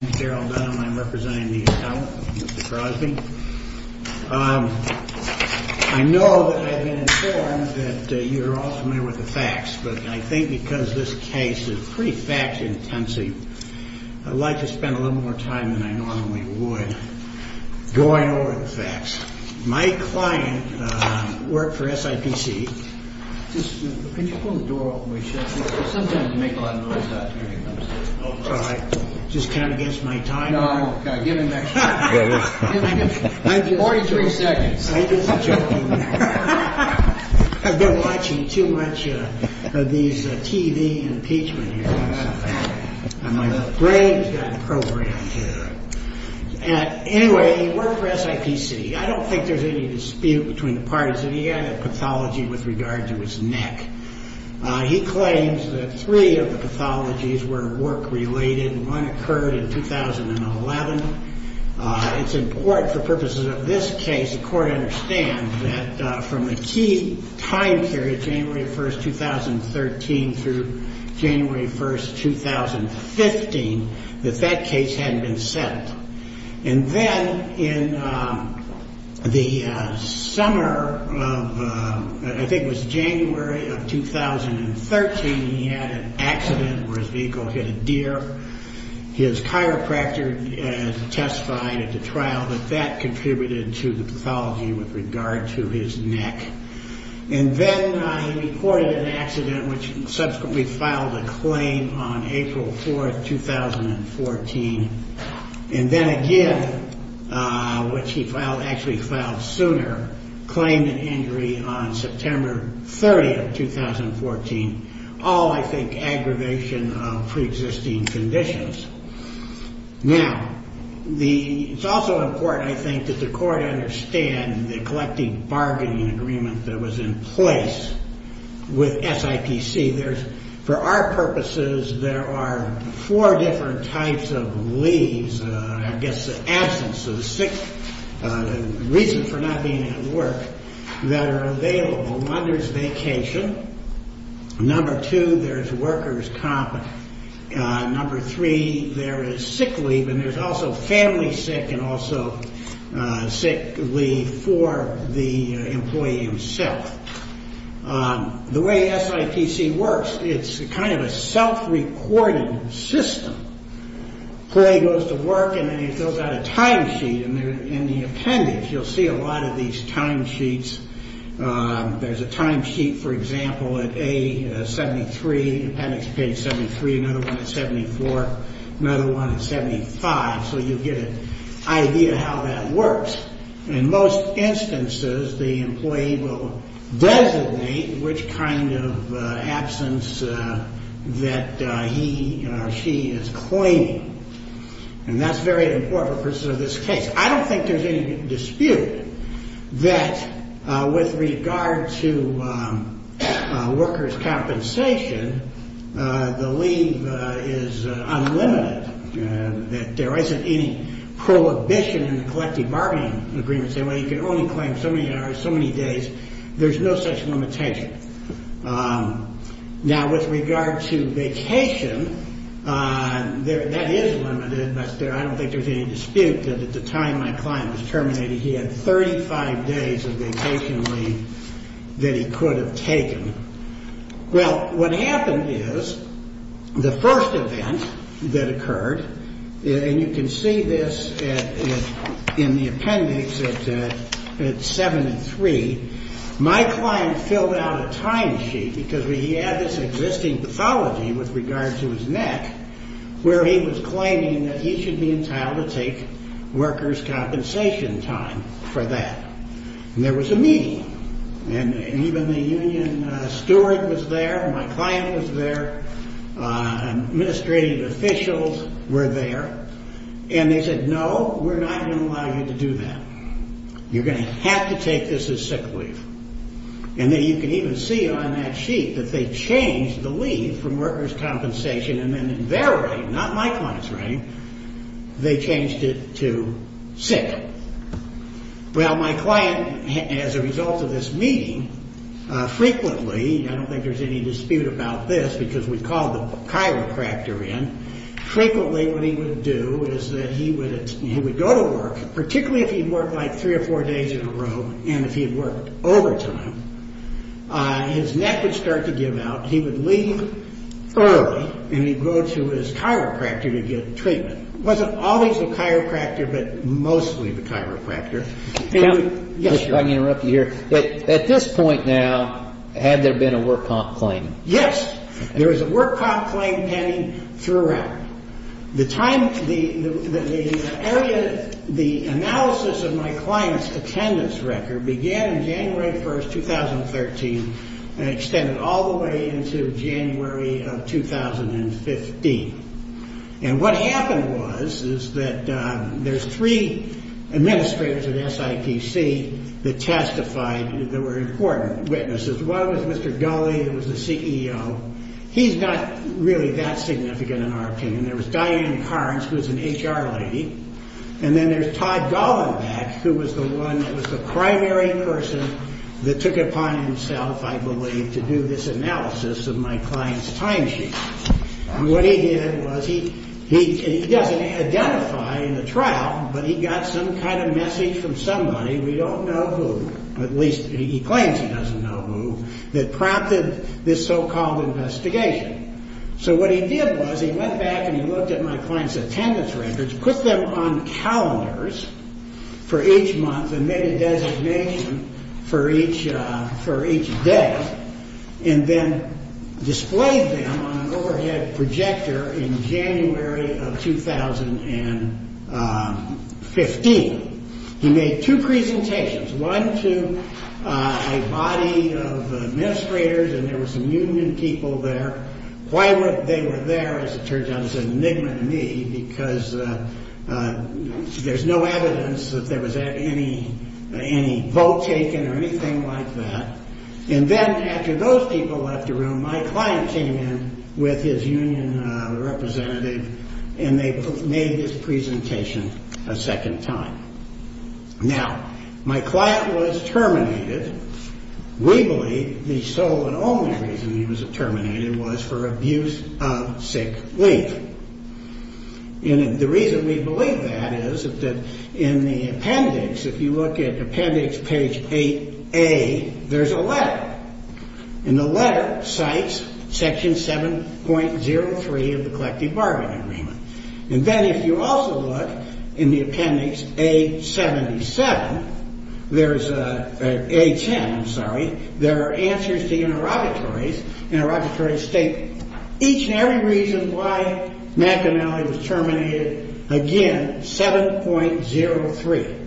My name is Daryl Dunham. I'm representing the account of Mr. Crosby. I know that I've been informed that you're all familiar with the facts, but I think because this case is pretty fact-intensive, I'd like to spend a little more time than I normally would going over the facts. My client worked for SIPC. Anyway, he worked for SIPC. I don't think there's any dispute between the parties. He had a pathology with regard to his neck. He claims that three of the pathologies were work-related. One occurred in 2011. It's important for purposes of this case, the court understands, that from the key time period, January 1, 2013, through January 1, 2015, that that case hadn't been set. And then in the summer of, I think it was January of 2013, he had an accident where his vehicle hit a deer. His chiropractor testified at the trial that that contributed to the pathology with regard to his neck. And then he reported an accident which subsequently filed a claim on April 4, 2014. And then again, which he filed, actually filed sooner, claimed an injury on September 30, 2014. All, I think, aggravation of pre-existing conditions. Now, it's also important, I think, that the court understand the collective bargaining agreement that was in place with SIPC. There's, for our purposes, there are four different types of leaves, I guess the absence of six, the reason for not being able to work, that are available. Number two, there's workers' comp. Number three, there is sick leave. And there's also family sick and also sick leave for the employee himself. The way SIPC works, it's kind of a self-recorded system. Employee goes to work and then he fills out a timesheet in the appendix. You'll see a lot of these timesheets. There's a timesheet, for example, at A73, appendix page 73, another one at 74, another one at 75. So you get an idea how that works. In most instances, the employee will designate which kind of absence that he or she is claiming. And that's very important for this case. I don't think there's any dispute that with regard to workers' compensation, the leave is unlimited, that there isn't any prohibition in the collective bargaining agreement saying, well, you can only claim so many hours, so many days. There's no such limitation. Now, with regard to vacation, that is limited. I don't think there's any dispute that at the time my client was terminated, he had 35 days of vacation leave that he could have taken. Well, what happened is the first event that occurred, and you can see this in the appendix at 73, my client filled out a timesheet because he had this existing pathology with regard to his neck where he was claiming that he should be entitled to take workers' compensation time for that. And there was a meeting, and even the union steward was there, my client was there, administrative officials were there, and they said, no, we're not going to allow you to do that. You're going to have to take this as sick leave. And then you can even see on that sheet that they changed the leave from workers' compensation and then in their reign, not my client's reign, they changed it to sick. Well, my client, as a result of this meeting, frequently, I don't think there's any dispute about this because we called the chiropractor in, frequently what he would do is that he would go to work, particularly if he worked like three or four days in a row, and if he had worked overtime, his neck would start to give out, he would leave early, and he'd go to his chiropractor to get treatment. It wasn't always the chiropractor, but mostly the chiropractor. Can I interrupt you here? At this point now, had there been a work comp claim? Yes. There was a work comp claim pending throughout. The time, the area, the analysis of my client's attendance record began January 1, 2013 and extended all the way into January of 2015. And what happened was, is that there's three administrators at SIPC that testified that were important witnesses. One was Mr. Gulley, who was the CEO. He's not really that significant in our opinion. There was Diane Carnes, who was an HR lady. And then there's Todd Goldenbeck, who was the one that was the primary person that took it upon himself, I believe, to do this analysis of my client's time sheet. And what he did was, he doesn't identify in the trial, but he got some kind of message from somebody, we don't know who, at least he claims he doesn't know who, that prompted this so-called investigation. So what he did was, he went back and he looked at my client's attendance records, put them on calendars for each month and made a designation for each day, and then displayed them on an overhead projector in January of 2015. He made two presentations, one to a body of administrators and there were some union people there. Why they were there, as it turns out, is an enigma to me, because there's no evidence that there was any vote taken or anything like that. And then after those people left the room, my client came in with his union representative and they made this presentation a second time. Now, my client was terminated. We believe the sole and only reason he was terminated was for abuse of sick leave. And the reason we believe that is that in the appendix, if you look at appendix page 8A, there's a letter. And the letter cites section 7.03 of the Collective Bargaining Agreement. And then if you also look in the appendix A-77, there's a, A-10, I'm sorry, there are answers to interrogatories. Interrogatories state each and every reason why McNally was terminated. Again, 7.03.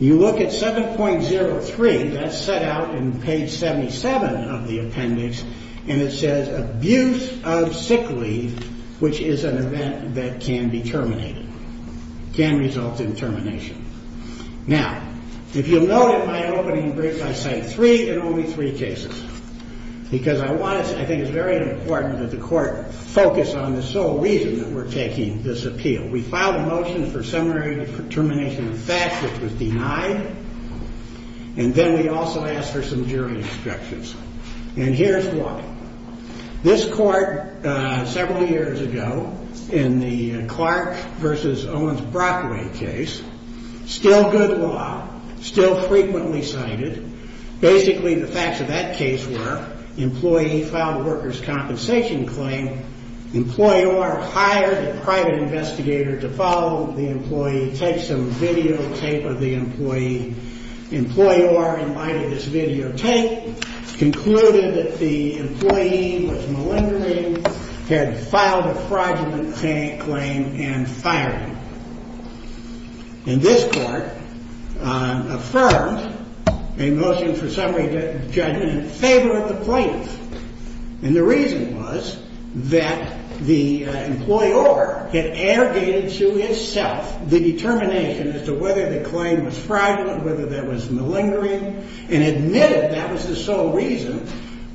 You look at 7.03, that's set out in page 77 of the appendix, and it says abuse of sick leave, which is an event that can be terminated, can result in termination. Now, if you'll note in my opening brief, I cite three and only three cases, because I want to say, I think it's very important that the court focus on the sole reason that we're taking this appeal. We filed a motion for seminary determination of facts, which was denied. And then we also asked for some jury instructions. And here's why. This court, several years ago, in the Clark versus Owens-Brockway case, still good law, still frequently cited. Basically, the facts of that case were, employee filed a workers' compensation claim, employer hired a private investigator to follow the employee, take some videotape of the employee. Employer, in light of this videotape, concluded that the employee was malingering, had filed a fraudulent claim, and fired him. And this court affirmed a motion for seminary judgment in favor of the plaintiff. And the reason was that the employer had arrogated to himself the determination as to whether the claim was fraudulent, whether that was malingering, and admitted that was the sole reason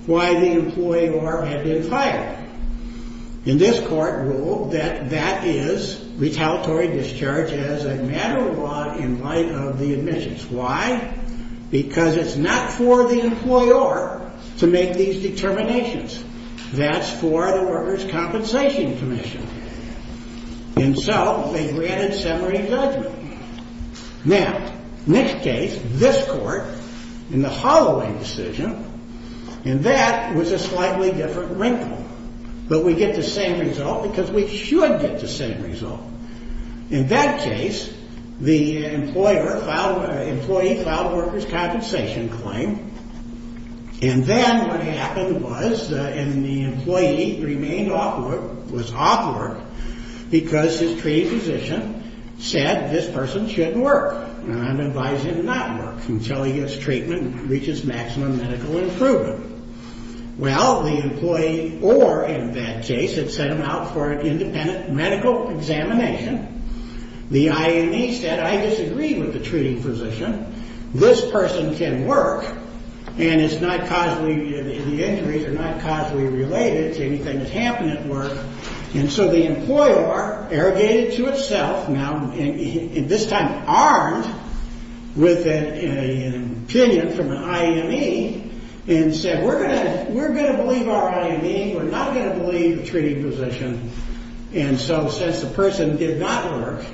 why the employer had been fired. And this court ruled that that is retaliatory discharge as a matter of law in light of the admissions. Why? Because it's not for the employer to make these determinations. That's for the workers' compensation commission. And so, they granted seminary judgment. Now, next case, this court, in the Holloway decision, and that was a slightly different wrinkle. But we get the same result because we should get the same result. In that case, the employee filed a workers' compensation claim. And then what happened was, and the employee remained off work, was off work because his treating physician said, this person shouldn't work. And I'm advising him not to work until his treatment reaches maximum medical improvement. Well, the employee or, in that case, had sent him out for an independent medical examination. The IME said, I disagree with the treating physician. This person can work. And it's not causally, the injuries are not causally related to anything that's happened at work. And so, the employer, arrogated to itself, now, this time armed with an opinion from an IME, and said, we're going to believe our IME. We're not going to believe the treating physician. And so, since the person did not work,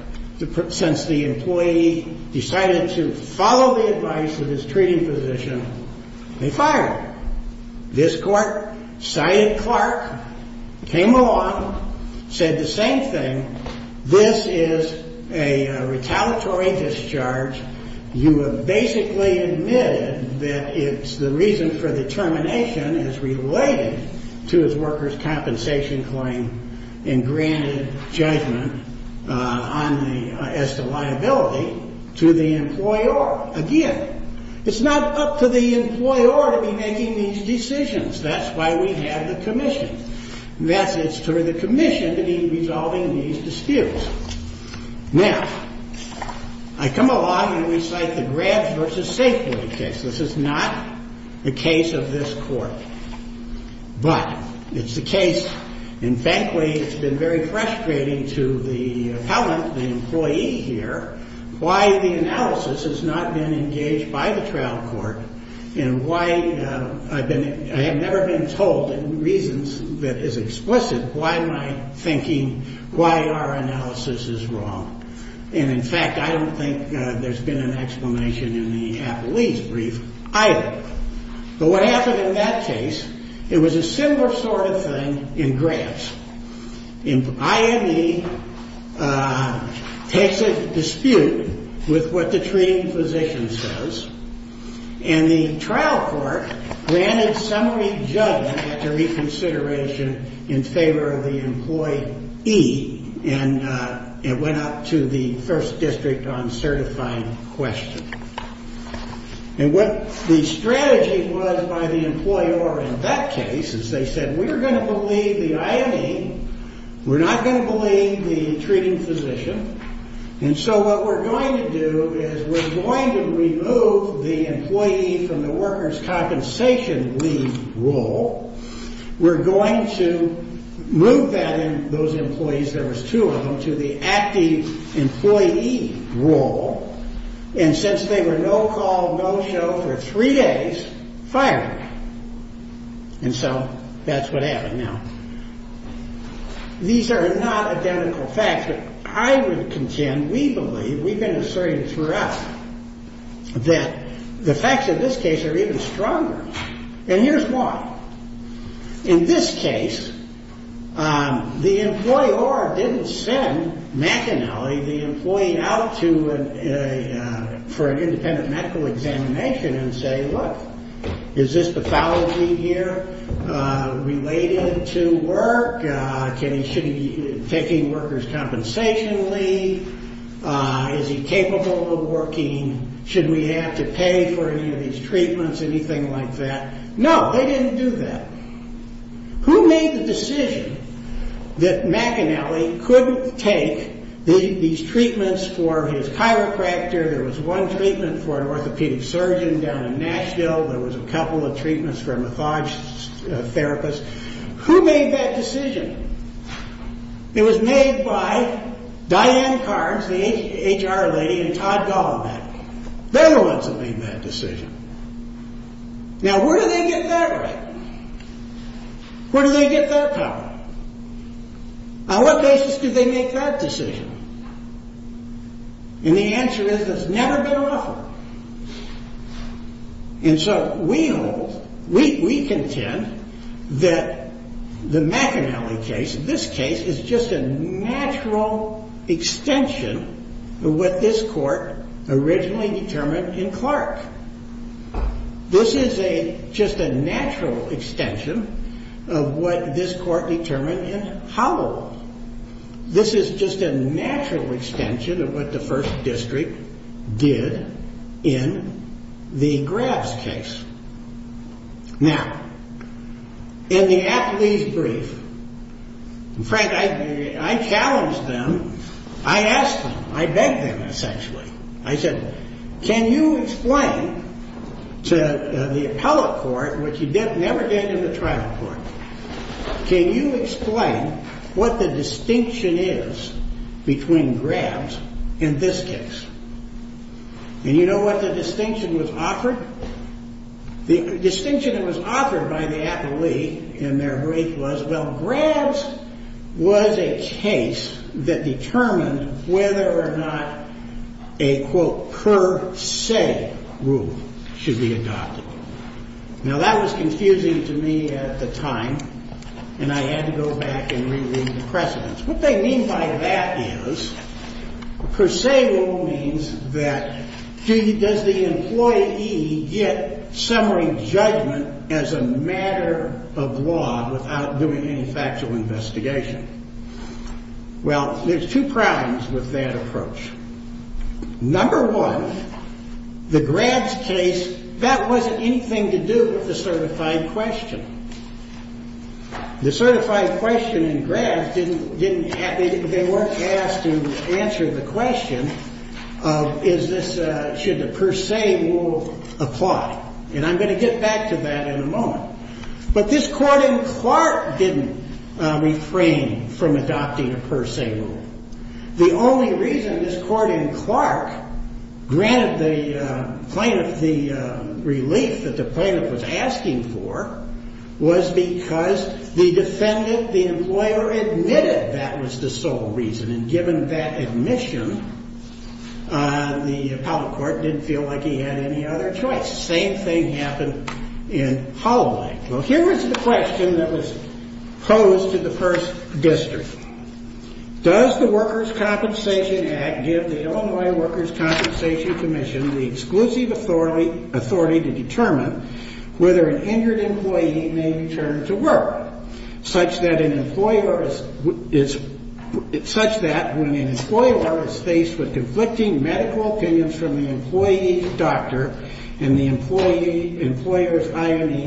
since the employee decided to follow the advice of his treating physician, they fired him. This court cited Clark, came along, said the same thing. This is a retaliatory discharge. You have basically admitted that it's the reason for the termination as related to his workers' compensation claim and granted judgment as to liability to the employer. Again, it's not up to the employer to be making these decisions. That's why we have the commission. That's it's to the commission to be resolving these disputes. Now, I come along and recite the Grabs v. Safeway case. This is not the case of this court. But it's the case, and frankly, it's been very frustrating to the appellant, the employee here, why the analysis has not been engaged by the trial court and why I have never been told in reasons that is explicit why my thinking, why our analysis is wrong. And in fact, I don't think there's been an explanation in the appellee's brief either. But what happened in that case, it was a similar sort of thing in Grabs. IME takes a dispute with what the treating physician says, and the trial court granted summary judgment after reconsideration in favor of the employee E and it went up to the first district on certifying question. And what the strategy was by the employer in that case is they said, we're going to believe the IME. We're not going to believe the treating physician. And so what we're going to do is we're going to remove the employee from the worker's compensation leave role. We're going to move that in those employees, there was two of them, to the active employee role. And since they were no call, no show for three days, fired them. And so that's what happened. Now, these are not identical facts. But I would contend, we believe, we've been asserting throughout that the facts of this case are even stronger. And here's why. In this case, the employer didn't send McAnally, the employee, out for an independent medical examination and say, look, is this pathology here related to work? Should he be taking worker's compensation leave? Is he capable of working? Should we have to pay for any of these treatments, anything like that? No, they didn't do that. Who made the decision that McAnally couldn't take these treatments for his chiropractor? There was one treatment for an orthopedic surgeon down in Nashville. There was a couple of treatments for a method therapist. Who made that decision? It was made by Diane Carnes, the HR lady, and Todd Golombek. They're the ones that made that decision. Now, where do they get that right? Where do they get that power? On what basis did they make that decision? And the answer is it's never been offered. And so we contend that the McAnally case, this case, is just a natural extension of what this court originally determined in Clark. This is just a natural extension of what this court determined in Howell. This is just a natural extension of what the First District did in the Graves case. Now, in the athlete's brief, in fact, I challenged them. I asked them. I begged them, essentially. I said, can you explain to the appellate court, which you never did in the trial court, can you explain what the distinction is between Graves and this case? And you know what the distinction was offered? The distinction that was offered by the appellee in their brief was, well, Graves was a case that determined whether or not a, quote, per se rule should be adopted. Now, that was confusing to me at the time, What they mean by that is, per se rule means that, does the employee get summary judgment as a matter of law without doing any factual investigation? Well, there's two problems with that approach. Number one, the Graves case, that wasn't anything to do with the certified question. The certified question in Graves, they weren't asked to answer the question, should the per se rule apply? And I'm going to get back to that in a moment. But this court in Clark didn't refrain from adopting a per se rule. The only reason this court in Clark granted the plaintiff the relief that the plaintiff was asking for was because the defendant, the employer, admitted that was the sole reason. And given that admission, the appellate court didn't feel like he had any other choice. Same thing happened in Holloway. Well, here is the question that was posed to the first district. Does the Workers' Compensation Act give the Illinois Workers' Compensation Commission the exclusive authority to determine whether an injured employee may return to work, such that when an employer is faced with conflicting medical opinions from the employee doctor and the employer's IME,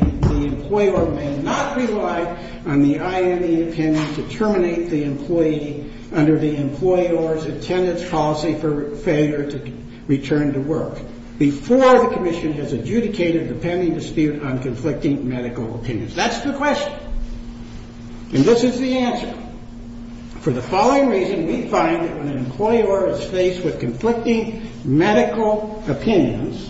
to terminate the employee under the employer's attendance policy for failure to return to work before the commission has adjudicated the pending dispute on conflicting medical opinions? That's the question. And this is the answer. For the following reason, we find that when an employer is faced with conflicting medical opinions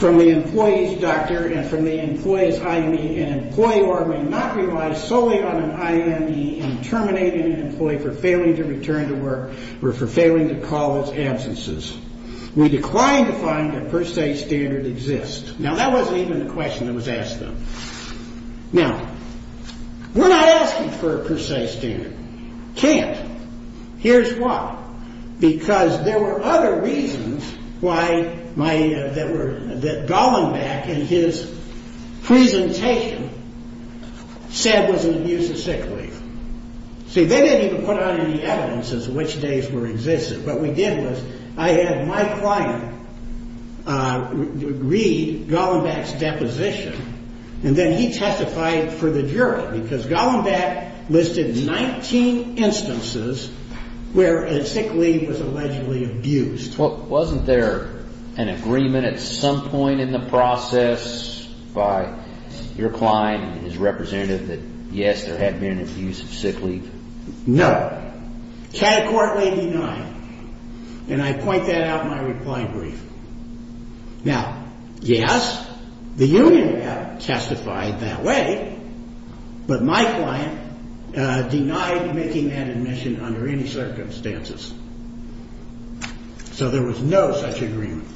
from the employee's doctor and from the employee's IME, an employer may not rely solely on an IME in terminating an employee for failing to return to work or for failing to call his absences. We decline to find that per se standard exists. Now, that wasn't even the question that was asked of them. Now, we're not asking for a per se standard. Can't. Here's why. Because there were other reasons that Gollenbeck in his presentation said was an abuse of sick leave. See, they didn't even put out any evidence as to which days were existent. What we did was I had my client read Gollenbeck's deposition, and then he testified for the jury because Gollenbeck listed 19 instances where a sick leave was allegedly abused. Wasn't there an agreement at some point in the process by your client and his representative that, yes, there had been an abuse of sick leave? No. Categorically denied. And I point that out in my reply brief. Now, yes, the union had testified that way, but my client denied making that admission under any circumstances. So there was no such agreement.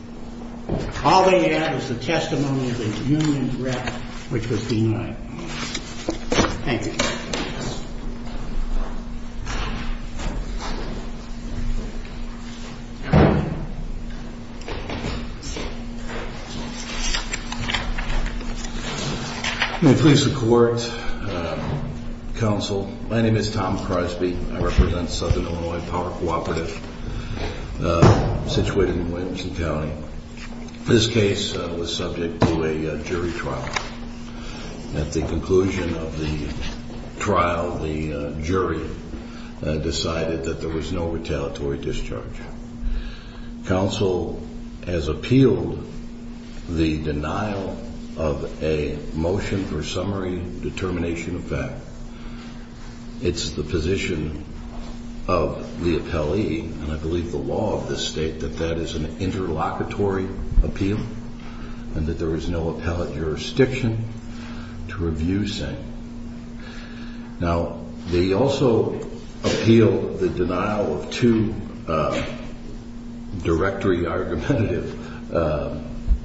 All they had was the testimony of a union rep, which was denied. Thank you. May it please the Court, Counsel. My name is Tom Crosby. I represent Southern Illinois Power Cooperative situated in Williamson County. This case was subject to a jury trial. At the conclusion of the trial, the jury decided that there was no retaliatory discharge. Counsel has appealed the denial of a motion for summary determination of fact. It's the position of the appellee, and I believe the law of this state, that that is an interlocutory appeal and that there is no appellate jurisdiction to review saying. Now, they also appealed the denial of two directory argumentative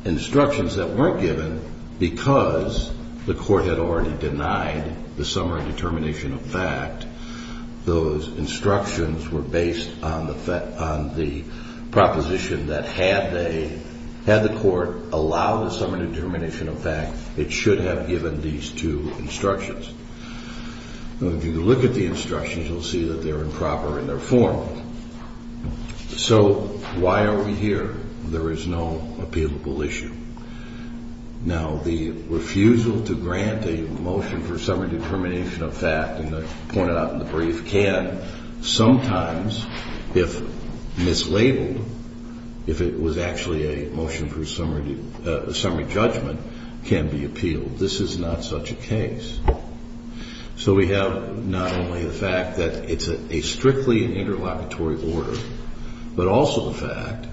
instructions that weren't given because the Court had already denied the summary determination of fact. Those instructions were based on the proposition that had the Court allow the summary determination of fact, it should have given these two instructions. If you look at the instructions, you'll see that they're improper in their form. So why are we here? There is no appealable issue. Now, the refusal to grant a motion for summary determination of fact, and I pointed out in the brief, can sometimes, if mislabeled, if it was actually a motion for summary judgment, can be appealed. This is not such a case. So we have not only the fact that it's a strictly interlocutory order, but also the fact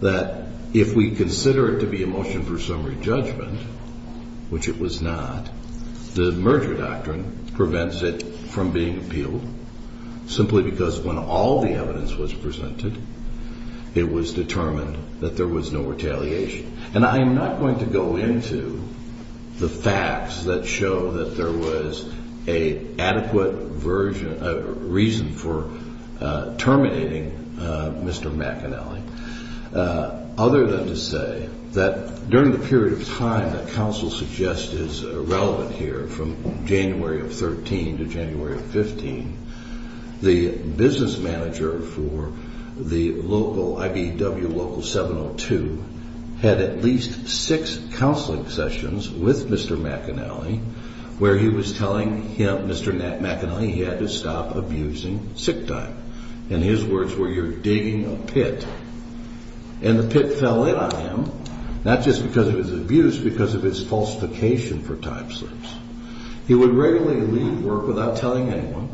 that if we consider it to be a motion for summary judgment, which it was not, the merger doctrine prevents it from being appealed simply because when all the evidence was presented, it was determined that there was no retaliation. And I am not going to go into the facts that show that there was an adequate reason for terminating Mr. McAnally, other than to say that during the period of time that counsel suggests is relevant here, from January of 13 to January of 15, the business manager for the local, IBEW Local 702, had at least six counseling sessions with Mr. McAnally where he was telling him, Mr. McAnally, he had to stop abusing sick time. And his words were, you're digging a pit. And the pit fell in on him, not just because of his abuse, but because of his falsification for time slips. He would regularly leave work without telling anyone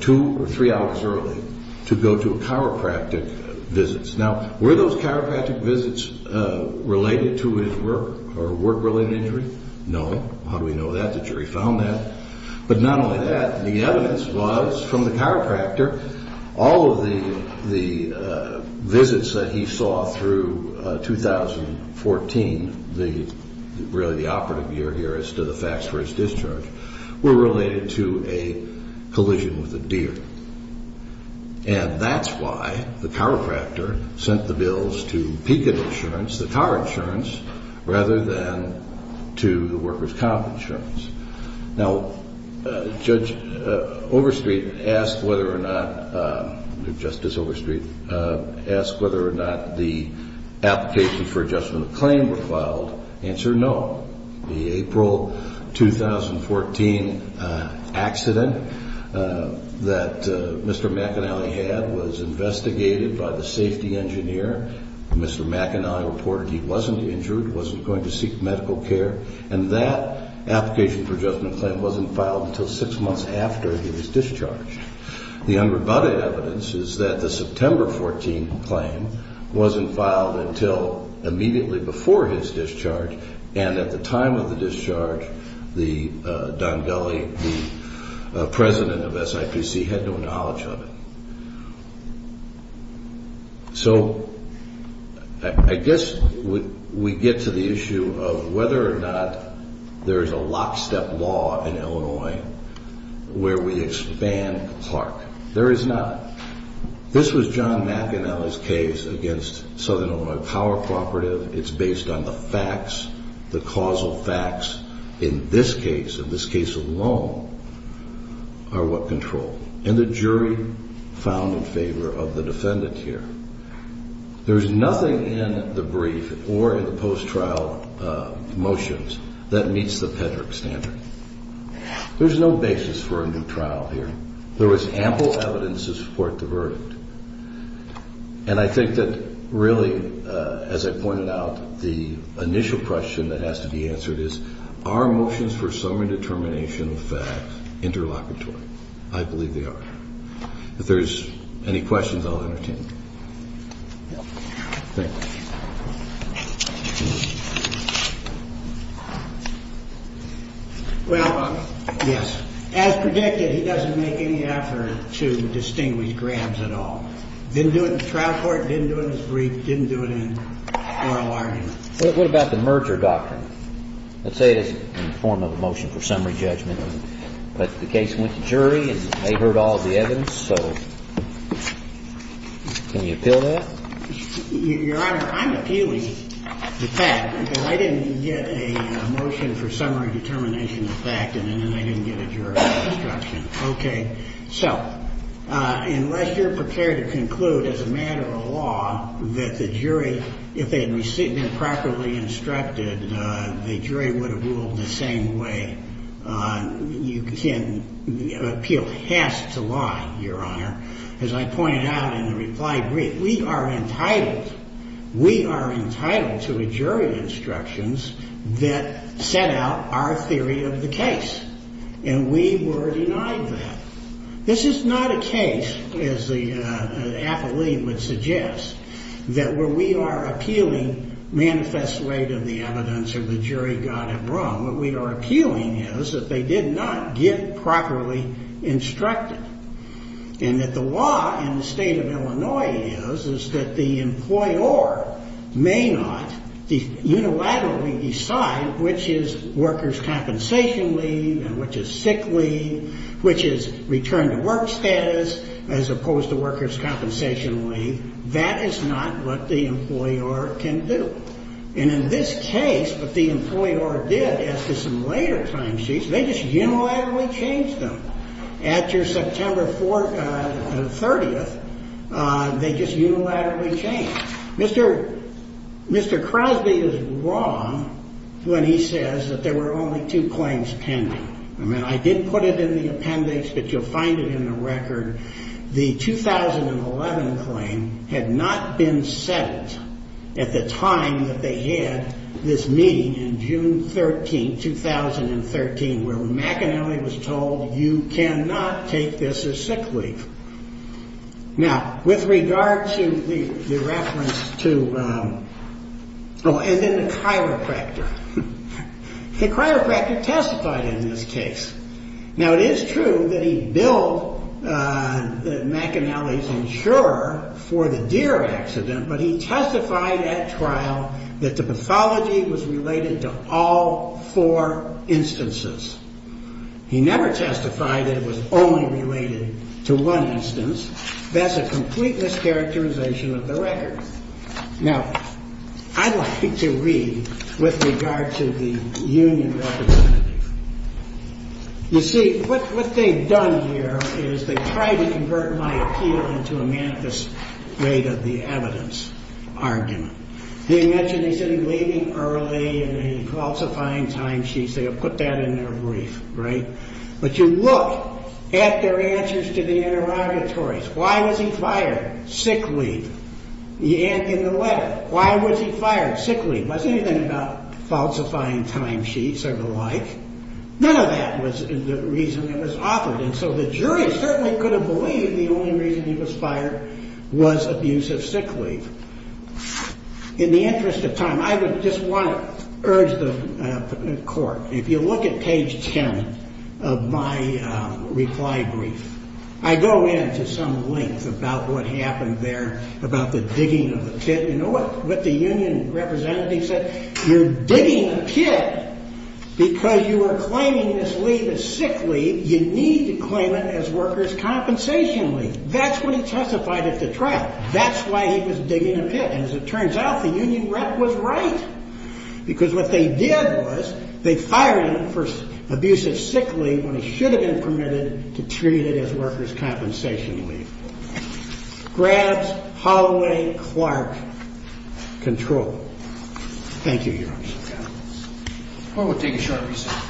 two or three hours early to go to chiropractic visits. Now, were those chiropractic visits related to his work or work-related injury? No. How do we know that? The jury found that. But not only that, the evidence was from the chiropractor, all of the visits that he saw through 2014, really the operative year here as to the facts for his discharge, were related to a collision with a deer. And that's why the chiropractor sent the bills to Pecan Insurance, the car insurance, rather than to the workers' comp insurance. Now, Judge Overstreet asked whether or not, Justice Overstreet asked whether or not the applications for adjustment of claim were filed. Answer, no. The April 2014 accident that Mr. McAnally had was investigated by the safety engineer. Mr. McAnally reported he wasn't injured, wasn't going to seek medical care. And that application for adjustment of claim wasn't filed until six months after he was discharged. The unrebutted evidence is that the September 14 claim wasn't filed until immediately before his discharge, and at the time of the discharge, Don Gulley, the president of SIPC, had no knowledge of it. So I guess we get to the issue of whether or not there is a lockstep law in Illinois where we expand Clark. There is not. This was John McAnally's case against Southern Illinois Power Cooperative. It's based on the facts, the causal facts in this case, in this case alone, are what control. And the jury found in favor of the defendant here. There's nothing in the brief or in the post-trial motions that meets the PEDRC standard. There's no basis for a new trial here. There was ample evidence to support the verdict. And I think that really, as I pointed out, the initial question that has to be answered is, are motions for summary determination of facts interlocutory? I believe they are. If there's any questions, I'll entertain them. Thank you. Well, yes. As predicted, he doesn't make any effort to distinguish grams at all. Didn't do it in the trial court. Didn't do it in his brief. Didn't do it in oral arguments. What about the merger doctrine? Let's say it's in the form of a motion for summary judgment. But the case went to jury and they heard all of the evidence. So can you appeal that? Your Honor, I'm appealing the fact because I didn't get a motion for summary determination of fact. And then I didn't get a jury instruction. Okay. So unless you're prepared to conclude as a matter of law that the jury, if they had been properly instructed, the jury would have ruled the same way, you can appeal. It has to lie, Your Honor. As I pointed out in the reply brief, we are entitled. We are entitled to a jury instructions that set out our theory of the case. And we were denied that. This is not a case, as the appellee would suggest, that where we are appealing manifest way to the evidence of the jury got it wrong. What we are appealing is that they did not get properly instructed. And that the law in the state of Illinois is that the employer may not unilaterally decide which is workers' compensation leave and which is sick leave, which is return to work status as opposed to workers' compensation leave. That is not what the employer can do. And in this case, what the employer did as to some later timesheets, they just unilaterally changed them. After September 30th, they just unilaterally changed. Mr. Crosby is wrong when he says that there were only two claims pending. I mean, I didn't put it in the appendix, but you'll find it in the record. The 2011 claim had not been settled at the time that they had this meeting in June 13th, 2013, where McAnally was told you cannot take this as sick leave. Now, with regard to the reference to... Oh, and then the chiropractor. The chiropractor testified in this case. Now, it is true that he billed McAnally's insurer for the deer accident, but he testified at trial that the pathology was related to all four instances. He never testified that it was only related to one instance. That's a complete mischaracterization of the record. Now, I'd like to read with regard to the union representative. You see, what they've done here is they've tried to convert my appeal into a manifest rate of the evidence argument. They mentioned he said he was leaving early and falsifying timesheets. They have put that in their brief, right? But you look at their answers to the interrogatories. Why was he fired? Sick leave. In the letter, why was he fired? Sick leave. It wasn't anything about falsifying timesheets or the like. None of that was the reason it was offered. And so the jury certainly could have believed the only reason he was fired was abuse of sick leave. In the interest of time, I would just want to urge the court, if you look at page 10 of my reply brief, I go into some length about what happened there about the digging of the pit. You know what the union representative said? He said, you're digging a pit because you are claiming this leave as sick leave. You need to claim it as workers' compensation leave. That's what he testified at the trial. That's why he was digging a pit. And as it turns out, the union rep was right because what they did was they fired him for abuse of sick leave when he should have been permitted to treat it as workers' compensation leave. Grant Holloway Clark, control. Thank you, Your Honor. Court will take a short recess.